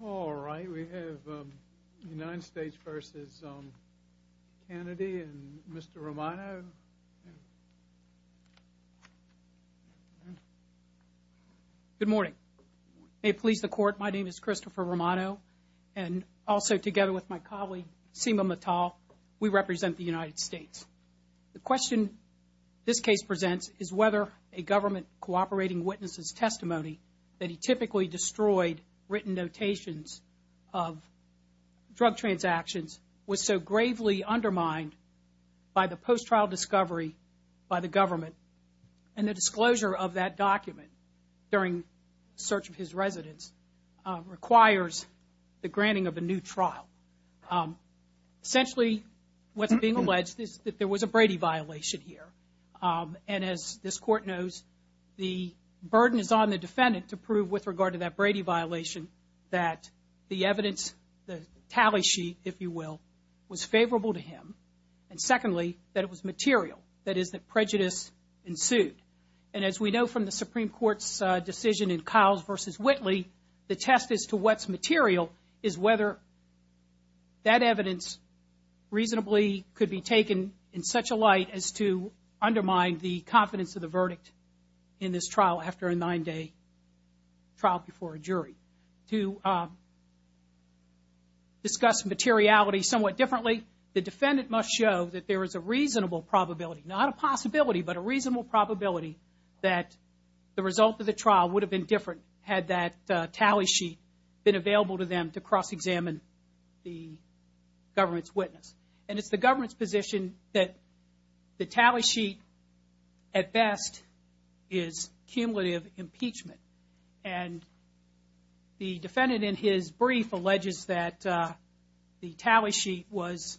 All right, we have United States v. Cannady and Mr. Romano. Good morning. May it please the Court, my name is Christopher Romano, and also together with my colleague Seema Mittal, we represent the United States. The question this case presents is whether a government cooperating witness' testimony that he typically destroyed written notations of drug transactions was so gravely undermined by the post-trial discovery by the government, and the disclosure of that document during search of his residence requires the granting of a new trial. Essentially, what's being alleged is that there was a Brady violation here, and as this Court knows, the burden is on the defendant to prove with regard to that Brady violation that the evidence, the tally sheet, if you will, was favorable to him, and secondly, that it was material, that is, that prejudice ensued. And as we know from the Supreme Court's decision in Kyles v. Whitley, the test as to what's material is whether that evidence reasonably could be taken in such a light as to undermine the confidence of the verdict in this trial after a nine-day trial before a jury. To discuss materiality somewhat differently, the defendant must show that there is a reasonable probability, not a possibility, but a reasonable probability that the result of the trial would have been different had that tally sheet been available to them to cross-examine the government's witness. And it's the government's position that the tally sheet, at best, is cumulative impeachment, and the defendant in his brief alleges that the tally sheet was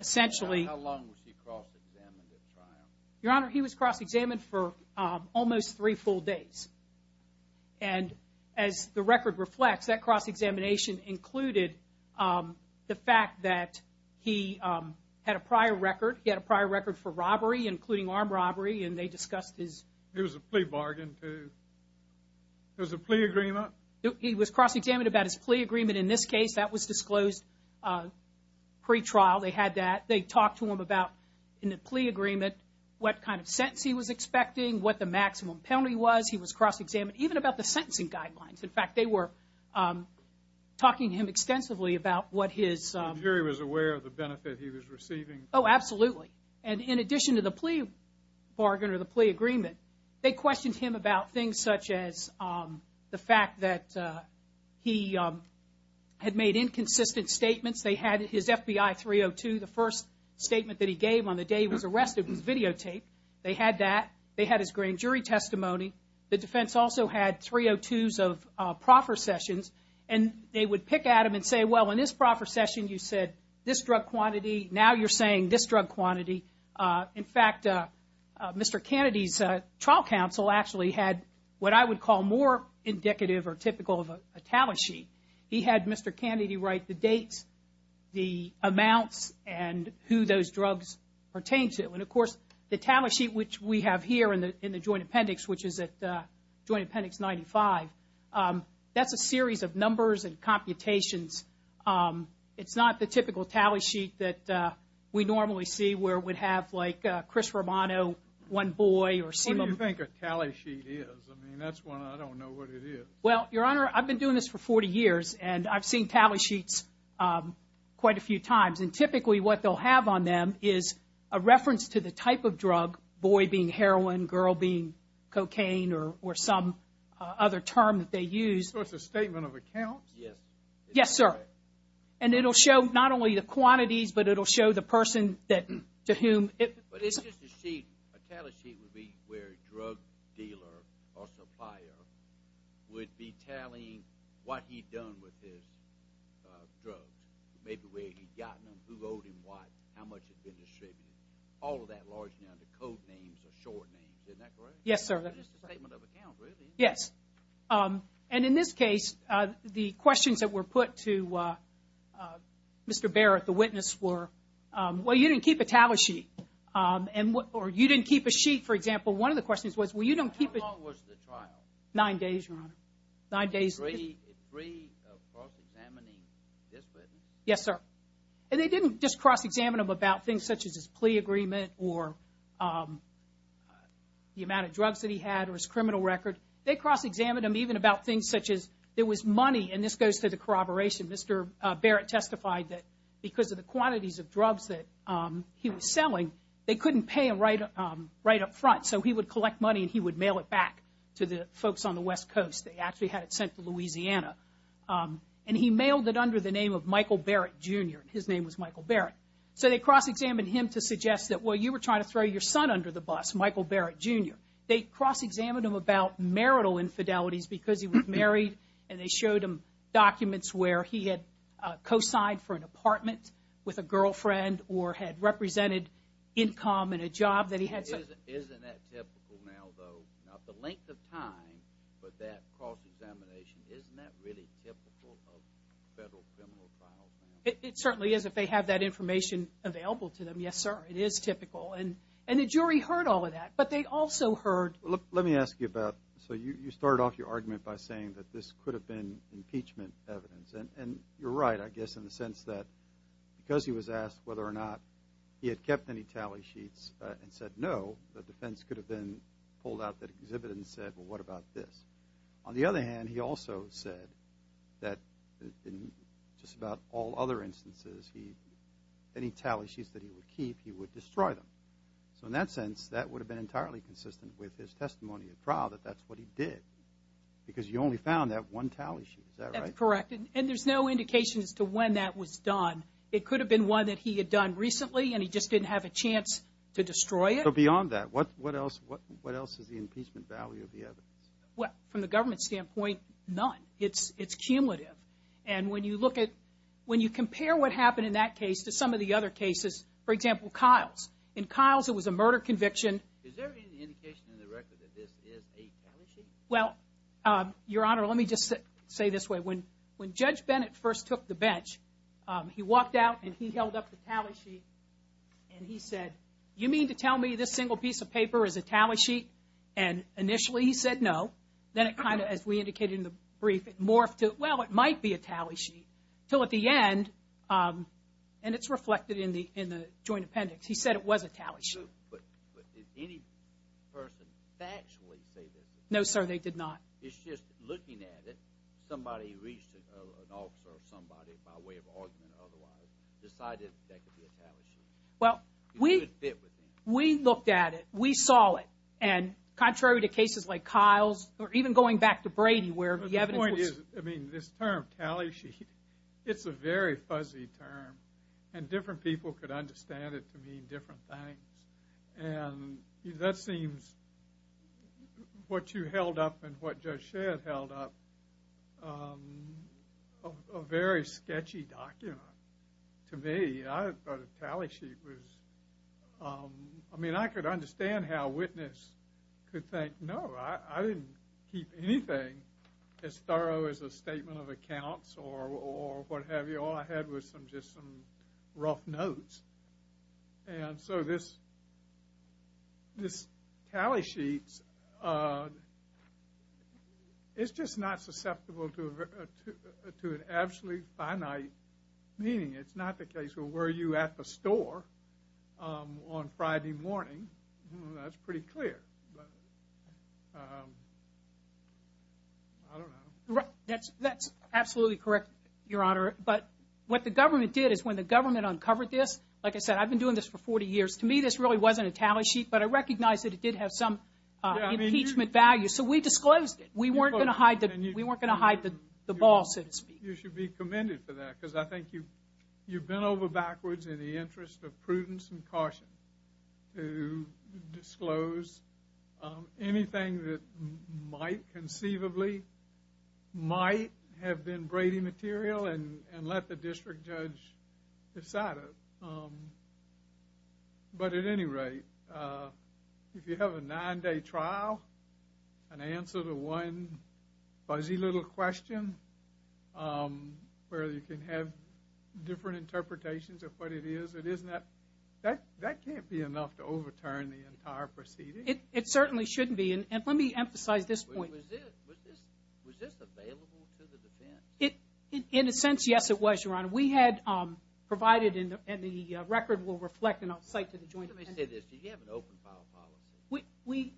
essentially... How long was he cross-examined at trial? Your Honor, he was cross-examined for almost three full days, and as the record reflects, that cross-examination included the fact that he had a prior record. He had a prior record for robbery, including armed robbery, and they discussed his... It was a plea bargain to... It was a plea agreement? He was cross-examined about his plea agreement. In this case, that was disclosed pre-trial. They had that. They talked to him about, in the plea agreement, what kind of sentence he was expecting, what the maximum penalty was. He was cross-examined even about the sentencing guidelines. In fact, they were talking to him extensively about what his... The jury was aware of the benefit he was receiving? Oh, absolutely. And in addition to the plea bargain or the plea agreement, they questioned him about things such as the fact that he had made inconsistent statements. They had his FBI 302. The first statement that he gave on the day he was arrested was videotaped. They had that. They had his grand jury testimony. The defense also had 302s of proffer sessions, and they would pick at him and say, Well, in this proffer session, you said this drug quantity. Now you're saying this drug quantity. In fact, Mr. Kennedy's trial counsel actually had what I would call more indicative or typical of a talent sheet. He had Mr. Kennedy write the dates, the amounts, and who those drugs pertained to. And, of course, the talent sheet, which we have here in the Joint Appendix, which is at Joint Appendix 95, that's a series of numbers and computations. It's not the typical talent sheet that we normally see where we'd have, like, Chris Romano, one boy or... What do you think a talent sheet is? I mean, that's one I don't know what it is. Well, Your Honor, I've been doing this for 40 years, and I've seen talent sheets quite a few times. And typically what they'll have on them is a reference to the type of drug, boy being heroin, girl being cocaine, or some other term that they use. So it's a statement of accounts? Yes. Yes, sir. And it'll show not only the quantities, but it'll show the person to whom it... But it's just a sheet. A talent sheet would be where a drug dealer or supplier would be tallying what he'd done with his drugs. Maybe where he'd gotten them, who owed him what, how much had been distributed. All of that largely under code names or short names. Isn't that correct? Yes, sir. It's just a statement of accounts, really. Yes. And in this case, the questions that were put to Mr. Barrett, the witness, were, well, you didn't keep a talent sheet. Or you didn't keep a sheet, for example. One of the questions was, well, you don't keep a... How long was the trial? Nine days, Your Honor. Nine days. Three cross-examining this witness. Yes, sir. And they didn't just cross-examine him about things such as his plea agreement or the amount of drugs that he had or his criminal record. They cross-examined him even about things such as there was money, and this goes to the corroboration. Mr. Barrett testified that because of the quantities of drugs that he was selling, they couldn't pay him right up front. So he would collect money and he would mail it back to the folks on the West Coast. They actually had it sent to Louisiana. And he mailed it under the name of Michael Barrett, Jr. His name was Michael Barrett. So they cross-examined him to suggest that, well, you were trying to throw your son under the bus, Michael Barrett, Jr. They cross-examined him about marital infidelities because he was married, and they showed him documents where he had co-signed for an apartment with a girlfriend or had represented income in a job that he had. Isn't that typical now, though, not the length of time, but that cross-examination, isn't that really typical of federal criminal trials now? It certainly is if they have that information available to them, yes, sir. It is typical. And the jury heard all of that, but they also heard – Let me ask you, Beth. So you started off your argument by saying that this could have been impeachment evidence. And you're right, I guess, in the sense that because he was asked whether or not he had kept any tally sheets and said no, the defense could have then pulled out that exhibit and said, well, what about this? On the other hand, he also said that in just about all other instances, any tally sheets that he would keep, he would destroy them. So in that sense, that would have been entirely consistent with his testimony at trial, that that's what he did because you only found that one tally sheet. Is that right? That's correct. And there's no indication as to when that was done. It could have been one that he had done recently and he just didn't have a chance to destroy it. So beyond that, what else is the impeachment value of the evidence? Well, from the government standpoint, none. It's cumulative. And when you compare what happened in that case to some of the other cases, for example, Kyles. In Kyles, it was a murder conviction. Is there any indication in the record that this is a tally sheet? Well, Your Honor, let me just say this way. When Judge Bennett first took the bench, he walked out and he held up the tally sheet and he said, you mean to tell me this single piece of paper is a tally sheet? And initially he said no. Then it kind of, as we indicated in the brief, it morphed to, well, it might be a tally sheet. Until at the end, and it's reflected in the joint appendix, he said it was a tally sheet. But did any person factually say this? No, sir, they did not. It's just looking at it, somebody reached it, an officer or somebody, by way of argument or otherwise, decided that could be a tally sheet. Well, we looked at it. We saw it. And contrary to cases like Kyles or even going back to Brady where the evidence was... But the point is, I mean, this term tally sheet, it's a very fuzzy term. And different people could understand it to mean different things. And that seems, what you held up and what Judge Shedd held up, a very sketchy document to me. I thought a tally sheet was, I mean, I could understand how a witness could think, no, I didn't keep anything as thorough as a statement of accounts or what have you. All I had was just some rough notes. And so this tally sheet, it's just not susceptible to an absolutely finite meaning. It's not the case of were you at the store on Friday morning. That's pretty clear. I don't know. That's absolutely correct, Your Honor. But what the government did is when the government uncovered this... Like I said, I've been doing this for 40 years. To me, this really wasn't a tally sheet, but I recognize that it did have some impeachment value. So we disclosed it. We weren't going to hide the ball, so to speak. You should be commended for that because I think you bent over backwards in the interest of prudence and caution to disclose anything that might conceivably might have been Brady material and let the district judge decide it. But at any rate, if you have a nine-day trial, an answer to one fuzzy little question where you can have different interpretations of what it is, that can't be enough to overturn the entire proceeding. It certainly shouldn't be. And let me emphasize this point. Was this available to the defense? In a sense, yes, it was, Your Honor. We had provided, and the record will reflect and I'll cite to the Joint... Let me say this. Do you have an open file policy? We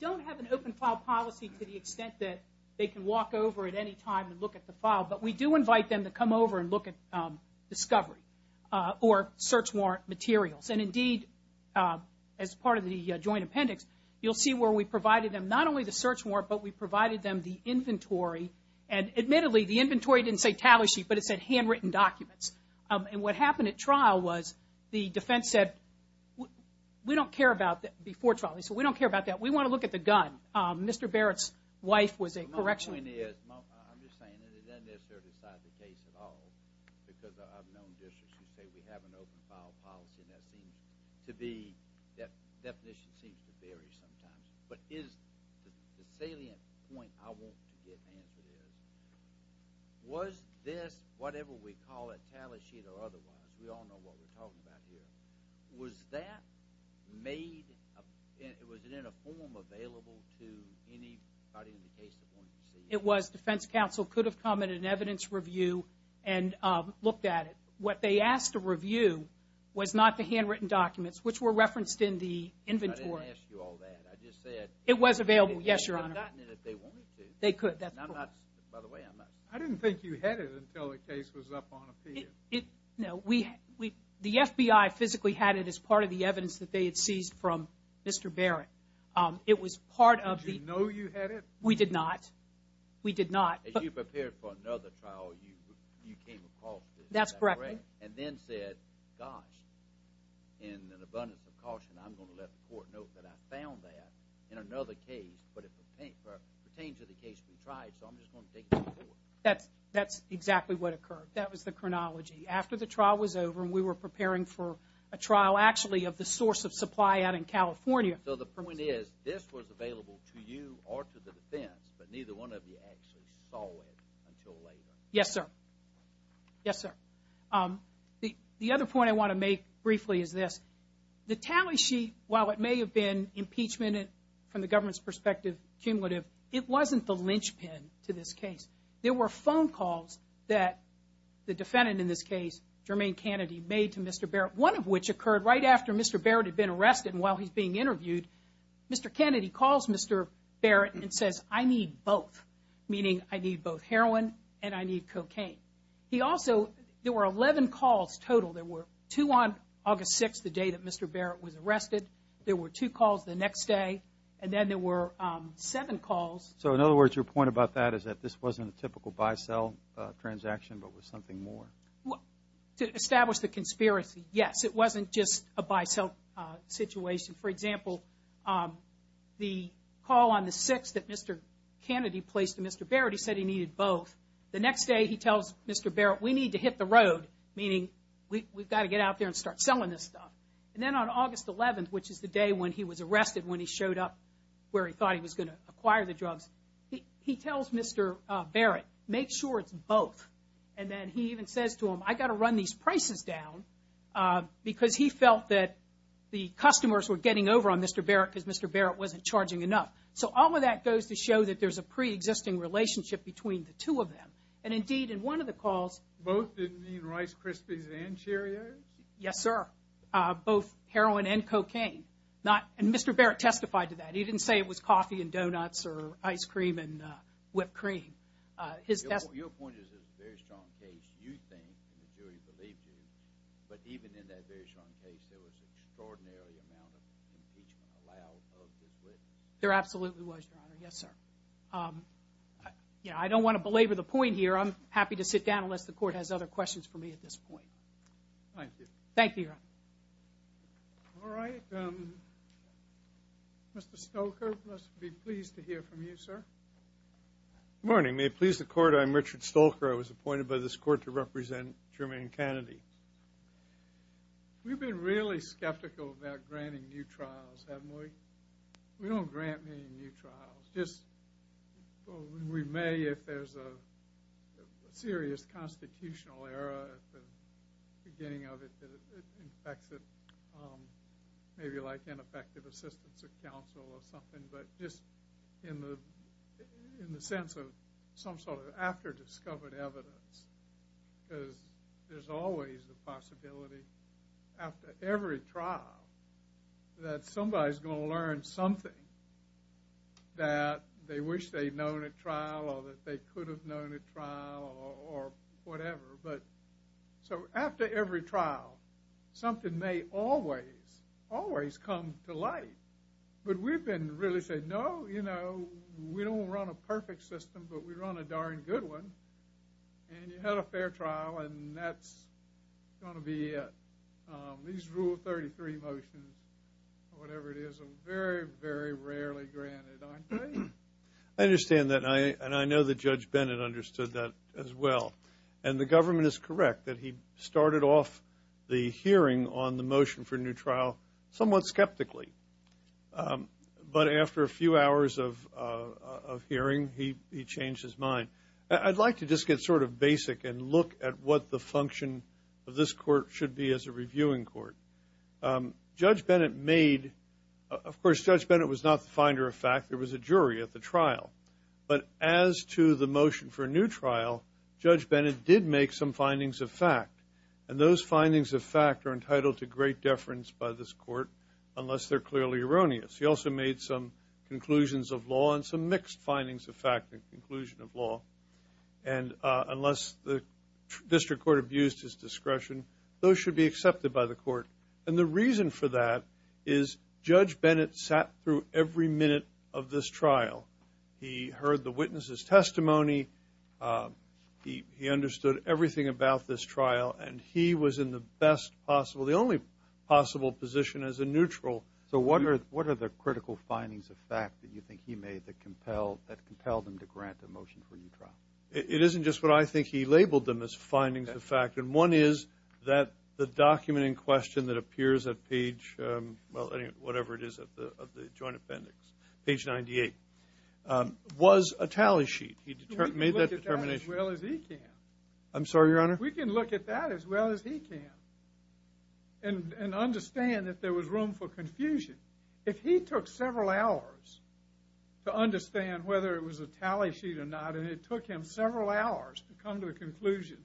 don't have an open file policy to the extent that they can walk over at any time and look at the file, but we do invite them to come over and look at discovery or search warrant materials. And indeed, as part of the Joint Appendix, you'll see where we provided them not only the search warrant, but we provided them the inventory. And admittedly, the inventory didn't say tally sheet, but it said handwritten documents. And what happened at trial was the defense said, we don't care about that before trial. So we don't care about that. We want to look at the gun. Mr. Barrett's wife was a correctional... My point is, I'm just saying that it doesn't necessarily decide the case at all because I've known districts who say we have an open file policy, and that seems to be, that definition seems to vary sometimes. But the salient point I want to get answered is, was this, whatever we call it, tally sheet or otherwise, we all know what we're talking about here, was that made, was it in a form available to anybody in the case that wanted to see it? It was. Defense counsel could have come at an evidence review and looked at it. What they asked to review was not the handwritten documents, which were referenced in the inventory. I didn't ask you all that. I just said... It was available, yes, Your Honor. They could have gotten it if they wanted to. They could. That's correct. By the way, I'm not... I didn't think you had it until the case was up on appeal. No. The FBI physically had it as part of the evidence that they had seized from Mr. Barrett. It was part of the... Did you know you had it? We did not. We did not. As you prepared for another trial, you came across this... That's correct. And then said, gosh, in an abundance of caution, I'm going to let the court know that I found that in another case, but it pertains to the case we tried, so I'm just going to take it to the court. That's exactly what occurred. That was the chronology. After the trial was over and we were preparing for a trial, actually of the source of supply out in California. So the point is this was available to you or to the defense, but neither one of you actually saw it until later. Yes, sir. Yes, sir. The other point I want to make briefly is this. The tally sheet, while it may have been impeachment from the government's perspective, cumulative, it wasn't the linchpin to this case. There were phone calls that the defendant in this case, Jermaine Kennedy, made to Mr. Barrett, one of which occurred right after Mr. Barrett had been arrested and while he's being interviewed. Mr. Kennedy calls Mr. Barrett and says, I need both, meaning I need both heroin and I need cocaine. He also... There were 11 calls total. There were two on August 6th, the day that Mr. Barrett was arrested. There were two calls the next day. And then there were seven calls. So, in other words, your point about that is that this wasn't a typical buy-sell transaction but was something more? To establish the conspiracy, yes. It wasn't just a buy-sell situation. For example, the call on the 6th that Mr. Kennedy placed to Mr. Barrett, he said he needed both. The next day he tells Mr. Barrett, we need to hit the road, meaning we've got to get out there and start selling this stuff. And then on August 11th, which is the day when he was arrested, when he showed up where he thought he was going to acquire the drugs, he tells Mr. Barrett, make sure it's both. And then he even says to him, I've got to run these prices down, because he felt that the customers were getting over on Mr. Barrett because Mr. Barrett wasn't charging enough. So all of that goes to show that there's a preexisting relationship between the two of them. And, indeed, in one of the calls. Both didn't mean Rice Krispies and Cheerios? Yes, sir. Both heroin and cocaine. And Mr. Barrett testified to that. He didn't say it was coffee and donuts or ice cream and whipped cream. Your point is it's a very strong case. You think, and the jury believed you, but even in that very strong case, there was an extraordinary amount of impeachment allowed of this witness. There absolutely was, Your Honor. Yes, sir. I don't want to belabor the point here. I'm happy to sit down unless the Court has other questions for me at this point. Thank you. Thank you, Your Honor. All right. Mr. Stolker, we must be pleased to hear from you, sir. Good morning. May it please the Court, I'm Richard Stolker. I was appointed by this Court to represent Jermaine Kennedy. We've been really skeptical about granting new trials, haven't we? We don't grant any new trials. We may if there's a serious constitutional error at the beginning of it that affects it maybe like ineffective assistance of counsel or something, but just in the sense of some sort of after-discovered evidence because there's always the possibility after every trial that somebody's going to learn something that they wish they'd known at trial or that they could have known at trial or whatever. But so after every trial, something may always, always come to light. But we've been really saying, no, you know, we don't want to run a perfect system, but we run a darn good one. And you had a fair trial, and that's going to be it. These Rule 33 motions or whatever it is are very, very rarely granted, aren't they? I understand that, and I know that Judge Bennett understood that as well. And the government is correct that he started off the hearing on the motion for a new trial somewhat skeptically. But after a few hours of hearing, he changed his mind. I'd like to just get sort of basic and look at what the function of this court should be as a reviewing court. Judge Bennett made, of course, Judge Bennett was not the finder of fact. There was a jury at the trial. But as to the motion for a new trial, Judge Bennett did make some findings of fact, and those findings of fact are entitled to great deference by this court unless they're clearly erroneous. He also made some conclusions of law and some mixed findings of fact and conclusion of law. And unless the district court abused his discretion, those should be accepted by the court. And the reason for that is Judge Bennett sat through every minute of this trial. He heard the witness's testimony. He understood everything about this trial. And he was in the best possible, the only possible position as a neutral. So what are the critical findings of fact that you think he made that compelled him to grant the motion for a new trial? It isn't just what I think he labeled them as findings of fact. And one is that the document in question that appears at page, well, whatever it is, of the joint appendix, page 98, was a tally sheet. He made that determination. We can look at that as well as he can. I'm sorry, Your Honor? He didn't understand that there was room for confusion. If he took several hours to understand whether it was a tally sheet or not, and it took him several hours to come to a conclusion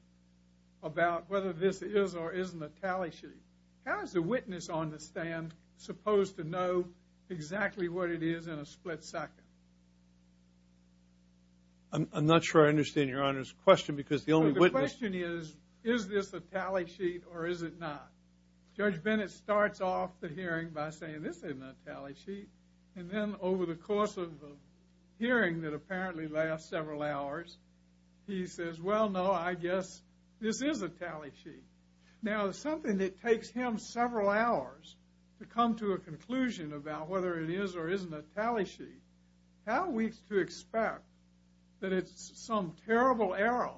about whether this is or isn't a tally sheet, how is the witness on the stand supposed to know exactly what it is in a split second? I'm not sure I understand Your Honor's question because the only witness – The question is, is this a tally sheet or is it not? Judge Bennett starts off the hearing by saying, this isn't a tally sheet. And then over the course of a hearing that apparently lasts several hours, he says, well, no, I guess this is a tally sheet. Now, something that takes him several hours to come to a conclusion about whether it is or isn't a tally sheet, how are we to expect that it's some terrible error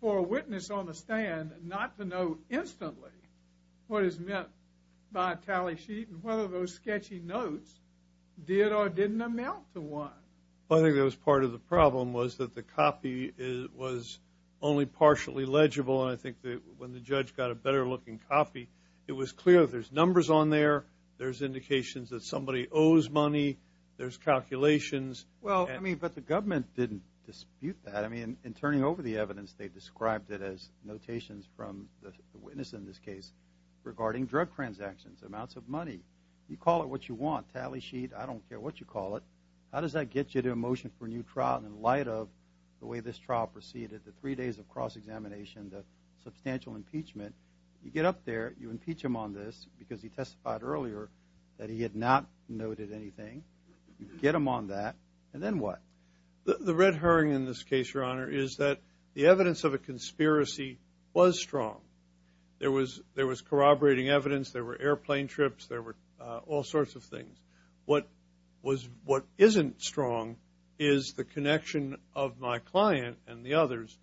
for a witness on the stand not to know instantly what is meant by a tally sheet and whether those sketchy notes did or didn't amount to one? Well, I think that was part of the problem was that the copy was only partially legible, and I think that when the judge got a better-looking copy, it was clear that there's numbers on there, there's indications that somebody owes money, there's calculations. Well, I mean, but the government didn't dispute that. I mean, in turning over the evidence, they described it as notations from the witness in this case regarding drug transactions, amounts of money. You call it what you want, tally sheet, I don't care what you call it. How does that get you to a motion for a new trial in light of the way this trial proceeded, the three days of cross-examination, the substantial impeachment? You get up there, you impeach him on this because he testified earlier that he had not noted anything. You get him on that, and then what? The red herring in this case, Your Honor, is that the evidence of a conspiracy was strong. There was corroborating evidence. There were airplane trips. There were all sorts of things. What isn't strong is the connection of my client and the others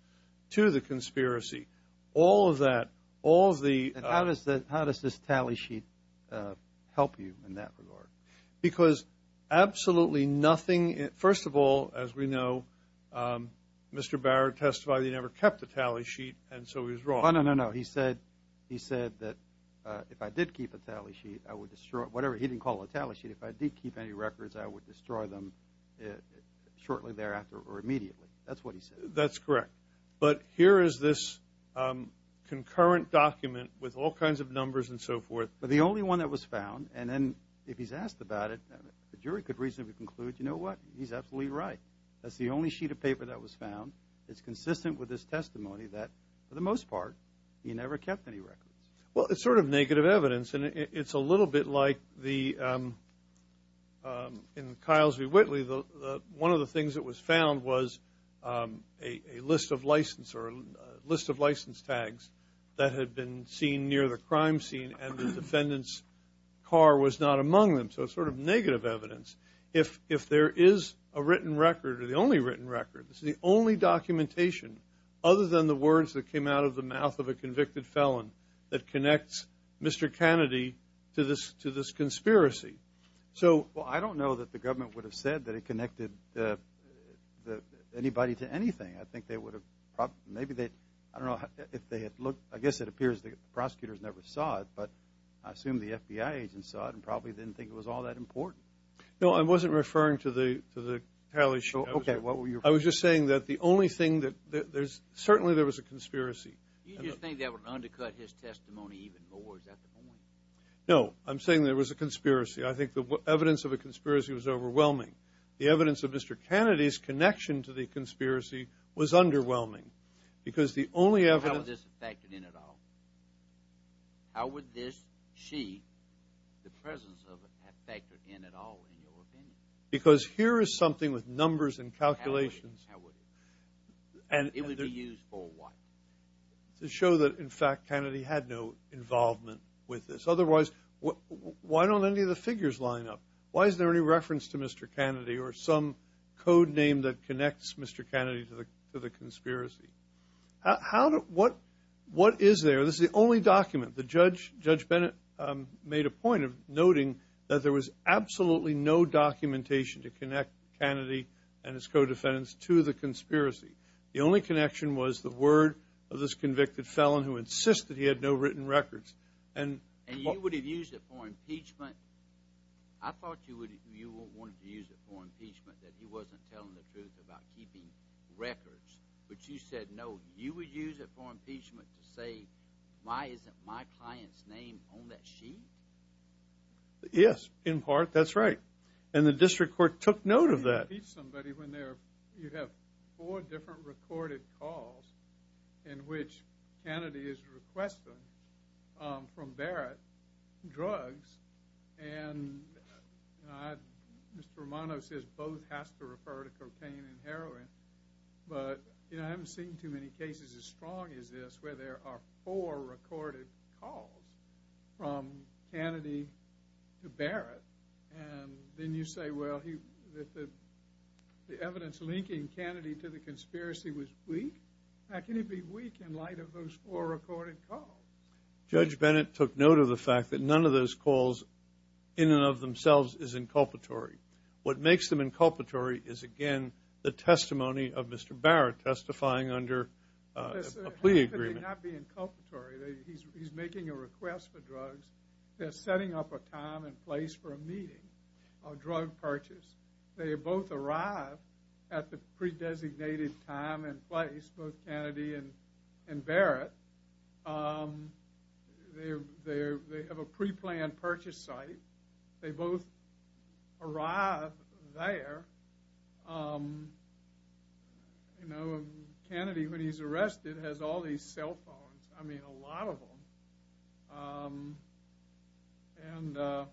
to the conspiracy. All of that, all of the- And how does this tally sheet help you in that regard? Because absolutely nothing, first of all, as we know, Mr. Barrett testified he never kept a tally sheet, and so he was wrong. No, no, no, no. He said that if I did keep a tally sheet, I would destroy it. Whatever. He didn't call it a tally sheet. If I did keep any records, I would destroy them shortly thereafter or immediately. That's what he said. That's correct. But here is this concurrent document with all kinds of numbers and so forth. But the only one that was found, and then if he's asked about it, the jury could reasonably conclude, you know what? He's absolutely right. That's the only sheet of paper that was found. It's consistent with his testimony that, for the most part, he never kept any records. Well, it's sort of negative evidence, and it's a little bit like the- or a list of license tags that had been seen near the crime scene and the defendant's car was not among them. So it's sort of negative evidence. If there is a written record or the only written record, this is the only documentation, other than the words that came out of the mouth of a convicted felon, that connects Mr. Kennedy to this conspiracy. So- Well, I don't know that the government would have said that it connected anybody to anything. I think they would have probably-maybe they-I don't know. If they had looked-I guess it appears the prosecutors never saw it, but I assume the FBI agents saw it and probably didn't think it was all that important. No, I wasn't referring to the tally sheet. Okay, what were you- I was just saying that the only thing that there's-certainly there was a conspiracy. You just think that would undercut his testimony even more. Is that the point? No, I'm saying there was a conspiracy. I think the evidence of a conspiracy was overwhelming. The evidence of Mr. Kennedy's connection to the conspiracy was underwhelming because the only evidence- How would this have factored in at all? How would this sheet, the presence of it, have factored in at all, in your opinion? Because here is something with numbers and calculations- How would it? And- It would be used for what? To show that, in fact, Kennedy had no involvement with this. Otherwise, why don't any of the figures line up? Why is there any reference to Mr. Kennedy or some code name that connects Mr. Kennedy to the conspiracy? What is there? This is the only document. Judge Bennett made a point of noting that there was absolutely no documentation to connect Kennedy and his co-defendants to the conspiracy. The only connection was the word of this convicted felon who insisted he had no written records. And you would have used it for impeachment? I thought you wanted to use it for impeachment, that he wasn't telling the truth about keeping records. But you said, no, you would use it for impeachment to say, why isn't my client's name on that sheet? Yes, in part. That's right. And the district court took note of that. You have four different recorded calls in which Kennedy is requesting from Barrett drugs. And Mr. Romano says both has to refer to cocaine and heroin. But I haven't seen too many cases as strong as this where there are four recorded calls from Kennedy to Barrett. And then you say, well, the evidence linking Kennedy to the conspiracy was weak? How can it be weak in light of those four recorded calls? Judge Bennett took note of the fact that none of those calls in and of themselves is inculpatory. What makes them inculpatory is, again, the testimony of Mr. Barrett testifying under a plea agreement. How could they not be inculpatory? He's making a request for drugs. They're setting up a time and place for a meeting, a drug purchase. They both arrive at the pre-designated time and place, both Kennedy and Barrett. They have a pre-planned purchase site. They both arrive there. You know, Kennedy, when he's arrested, has all these cell phones. I mean, a lot of them. And I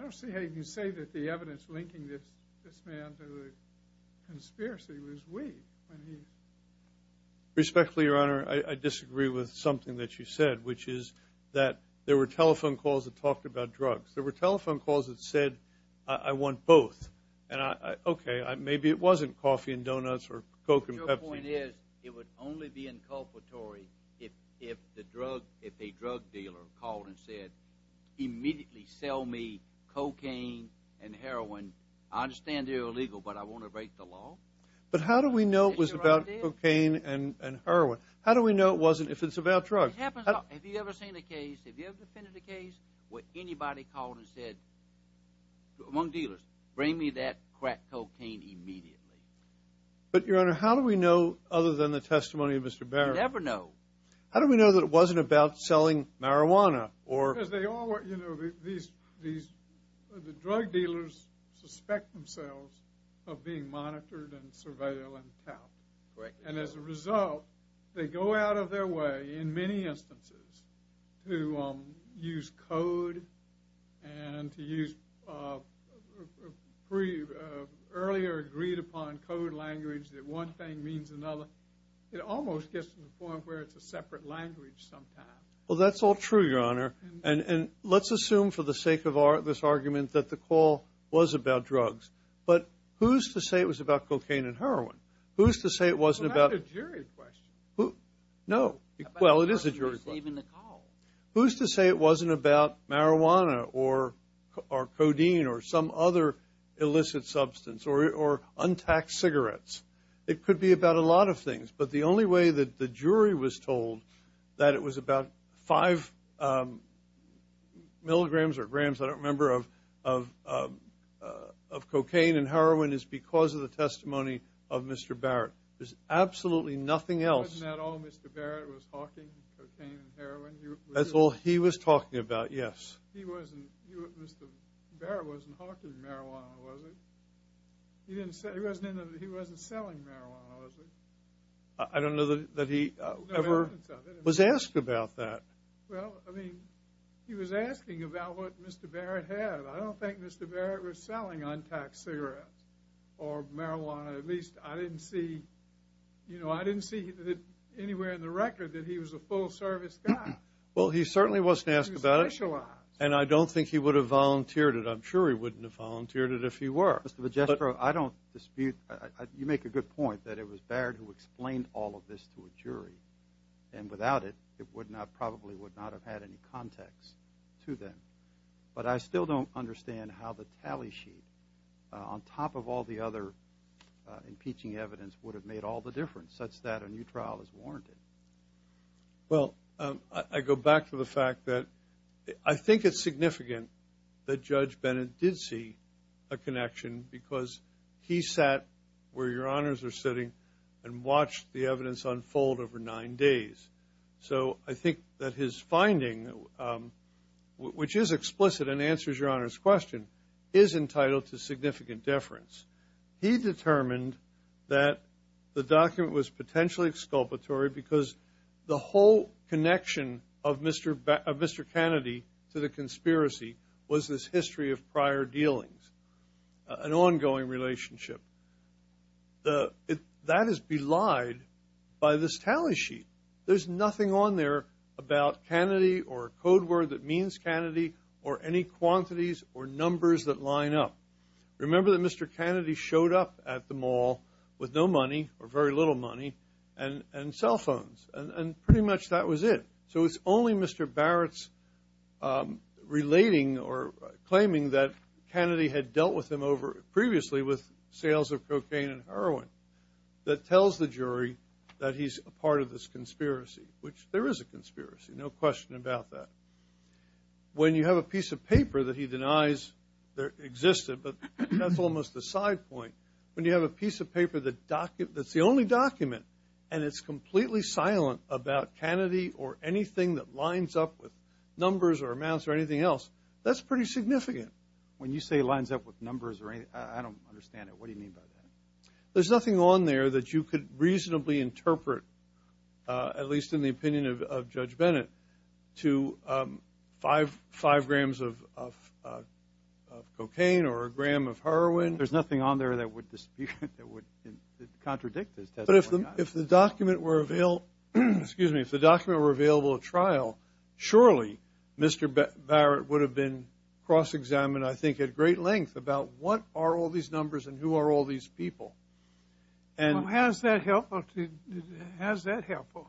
don't see how you can say that the evidence linking this man to the conspiracy was weak. Respectfully, Your Honor, I disagree with something that you said, which is that there were telephone calls that talked about drugs. There were telephone calls that said, I want both. And, okay, maybe it wasn't coffee and donuts or Coke and Pepsi. But your point is it would only be inculpatory if a drug dealer called and said, immediately sell me cocaine and heroin. I understand they're illegal, but I want to break the law. But how do we know it was about cocaine and heroin? How do we know it wasn't if it's about drugs? It happens. Have you ever seen a case? Have you ever defended a case where anybody called and said, among dealers, bring me that crack cocaine immediately? But, Your Honor, how do we know other than the testimony of Mr. Barrett? You never know. How do we know that it wasn't about selling marijuana? Because the drug dealers suspect themselves of being monitored and surveilled and tapped. Correct. And, as a result, they go out of their way in many instances to use code and to use earlier agreed upon code language that one thing means another. It almost gets to the point where it's a separate language sometimes. Well, that's all true, Your Honor. And let's assume for the sake of this argument that the call was about drugs. Well, that's a jury question. No. Well, it is a jury question. Who's to say it wasn't about marijuana or codeine or some other illicit substance or untaxed cigarettes? It could be about a lot of things. But the only way that the jury was told that it was about five milligrams or grams, I don't remember, of cocaine and heroin is because of the testimony of Mr. Barrett. There's absolutely nothing else. Wasn't that all Mr. Barrett was hawking, cocaine and heroin? That's all he was talking about, yes. Mr. Barrett wasn't hawking marijuana, was he? He wasn't selling marijuana, was he? I don't know that he ever was asked about that. Well, I mean, he was asking about what Mr. Barrett had. I don't think Mr. Barrett was selling untaxed cigarettes or marijuana. At least I didn't see, you know, I didn't see anywhere in the record that he was a full-service guy. Well, he certainly wasn't asked about it. He was specialized. And I don't think he would have volunteered it. I'm sure he wouldn't have volunteered it if he were. Mr. Magistro, I don't dispute. You make a good point that it was Barrett who explained all of this to a jury. And without it, it probably would not have had any context to them. But I still don't understand how the tally sheet, on top of all the other impeaching evidence, would have made all the difference such that a new trial is warranted. Well, I go back to the fact that I think it's significant that Judge Bennett did see a connection because he sat where Your Honors are sitting and watched the evidence unfold over nine days. So I think that his finding, which is explicit and answers Your Honors' question, is entitled to significant deference. He determined that the document was potentially exculpatory because the whole connection of Mr. Kennedy to the conspiracy was this history of prior dealings. An ongoing relationship. That is belied by this tally sheet. There's nothing on there about Kennedy or a code word that means Kennedy or any quantities or numbers that line up. Remember that Mr. Kennedy showed up at the mall with no money or very little money and cell phones. And pretty much that was it. So it's only Mr. Barrett's relating or claiming that Kennedy had dealt with him previously with sales of cocaine and heroin that tells the jury that he's a part of this conspiracy, which there is a conspiracy. No question about that. When you have a piece of paper that he denies existed, but that's almost the side point. When you have a piece of paper that's the only document and it's completely silent about Kennedy or anything that lines up with numbers or amounts or anything else, that's pretty significant. When you say lines up with numbers or anything, I don't understand it. What do you mean by that? There's nothing on there that you could reasonably interpret, at least in the opinion of Judge Bennett, to five grams of cocaine or a gram of heroin. There's nothing on there that would contradict his testimony. But if the document were available at trial, surely Mr. Barrett would have been cross-examined, I think, at great length about what are all these numbers and who are all these people. How is that helpful?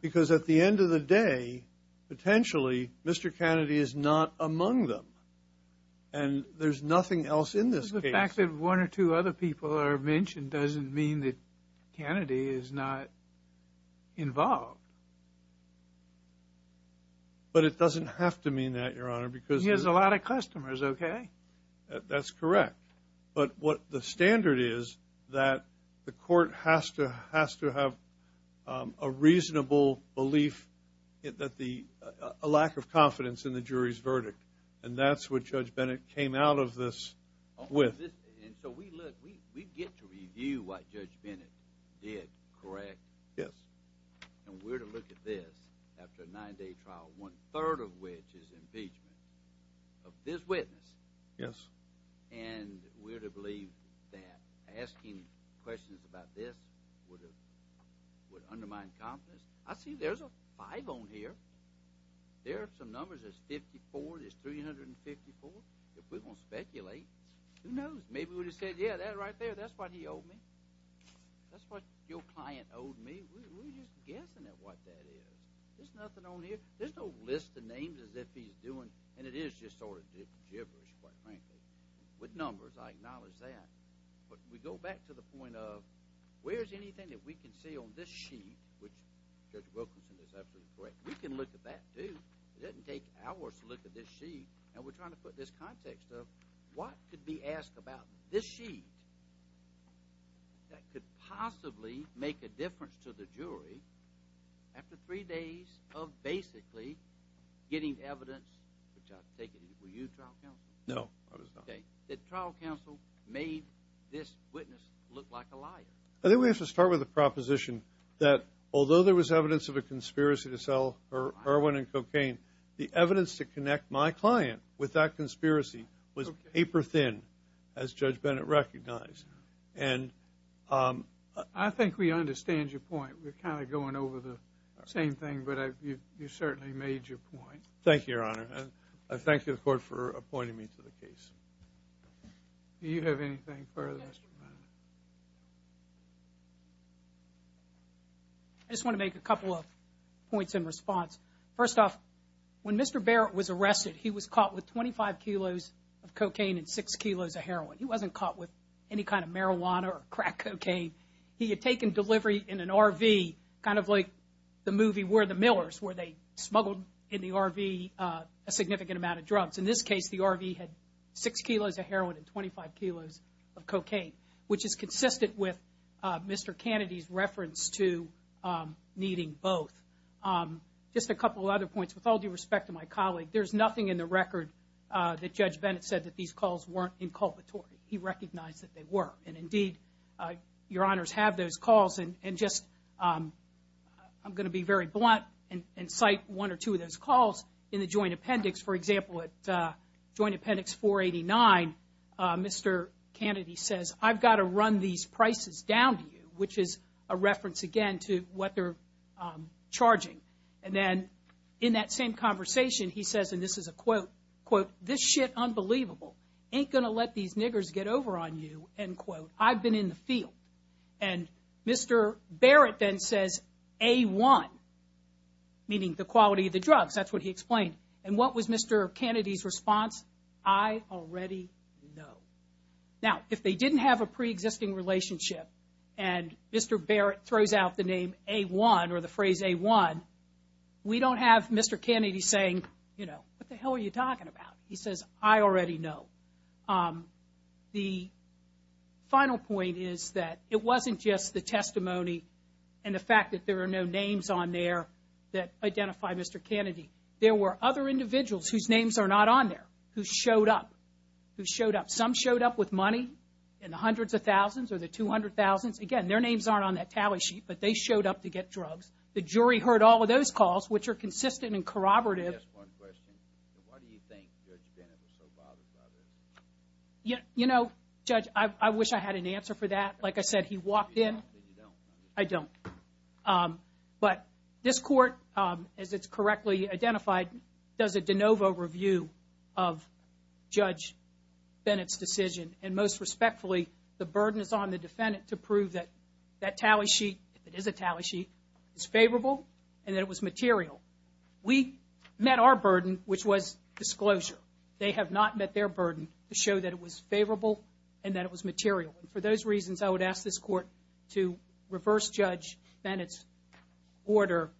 Because at the end of the day, potentially, Mr. Kennedy is not among them. And there's nothing else in this case. Just the fact that one or two other people are mentioned doesn't mean that Kennedy is not involved. But it doesn't have to mean that, Your Honor, because there's a lot of customers, okay? That's correct. But what the standard is that the court has to have a reasonable belief, And that's what Judge Bennett came out of this with. And so we get to review what Judge Bennett did, correct? Yes. And we're to look at this after a nine-day trial, one-third of which is impeachment of this witness. Yes. And we're to believe that asking questions about this would undermine confidence? I see there's a five on here. There are some numbers. There's 54. There's 354. If we're going to speculate, who knows? Maybe we would have said, yeah, that right there, that's what he owed me. That's what your client owed me. We're just guessing at what that is. There's nothing on here. There's no list of names as if he's doing, and it is just sort of gibberish, quite frankly. With numbers, I acknowledge that. But we go back to the point of where's anything that we can say on this sheet, which Judge Wilkinson is absolutely correct, we can look at that too. It doesn't take hours to look at this sheet. And we're trying to put this context of what could be asked about this sheet that could possibly make a difference to the jury after three days of basically getting evidence, which I take it were you trial counsel? No, I was not. Okay. The trial counsel made this witness look like a liar. I think we have to start with the proposition that although there was evidence of a conspiracy to sell her heroin and cocaine, the evidence to connect my client with that conspiracy was paper thin, as Judge Bennett recognized. And I think we understand your point. We're kind of going over the same thing, but you certainly made your point. Thank you, Your Honor. And I thank you, the Court, for appointing me to the case. Do you have anything further? I just want to make a couple of points in response. First off, when Mr. Barrett was arrested, he was caught with 25 kilos of cocaine and 6 kilos of heroin. He wasn't caught with any kind of marijuana or crack cocaine. He had taken delivery in an RV, kind of like the movie Where the Millers, In this case, the RV had 6 kilos of heroin and 25 kilos of cocaine, which is consistent with Mr. Kennedy's reference to needing both. Just a couple of other points. With all due respect to my colleague, there's nothing in the record that Judge Bennett said that these calls weren't inculpatory. He recognized that they were. And, indeed, Your Honors have those calls. And just I'm going to be very blunt and cite one or two of those calls in the joint appendix. For example, at Joint Appendix 489, Mr. Kennedy says, I've got to run these prices down to you, which is a reference, again, to what they're charging. And then in that same conversation, he says, and this is a quote, This shit unbelievable. Ain't going to let these niggers get over on you. I've been in the field. And Mr. Barrett then says, A1, meaning the quality of the drugs. That's what he explained. And what was Mr. Kennedy's response? I already know. Now, if they didn't have a preexisting relationship and Mr. Barrett throws out the name A1 or the phrase A1, we don't have Mr. Kennedy saying, you know, what the hell are you talking about? He says, I already know. The final point is that it wasn't just the testimony and the fact that there are no names on there that identify Mr. Kennedy. There were other individuals whose names are not on there who showed up, who showed up. Some showed up with money in the hundreds of thousands or the 200,000s. Again, their names aren't on that tally sheet, but they showed up to get drugs. The jury heard all of those calls, which are consistent and corroborative. Can I ask one question? Why do you think Judge Bennett was so bothered by this? You know, Judge, I wish I had an answer for that. Like I said, he walked in. You don't, but you don't. I don't. But this court, as it's correctly identified, does a de novo review of Judge Bennett's decision, and most respectfully, the burden is on the defendant to prove that that tally sheet, if it is a tally sheet, is favorable and that it was material. We met our burden, which was disclosure. They have not met their burden to show that it was favorable and that it was material. For those reasons, I would ask this court to reverse Judge Bennett's order,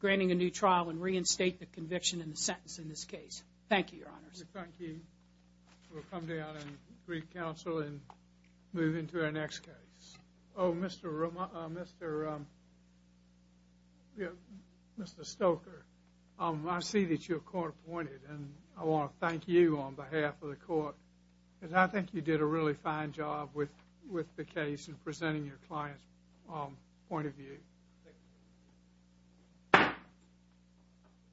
granting a new trial, and reinstate the conviction and the sentence in this case. Thank you, Your Honors. Thank you. We'll come down and read counsel and move into our next case. Oh, Mr. Stoker, I see that you're court appointed, and I want to thank you on behalf of the court, because I think you did a really fine job with the case in presenting your client's point of view. Thank you.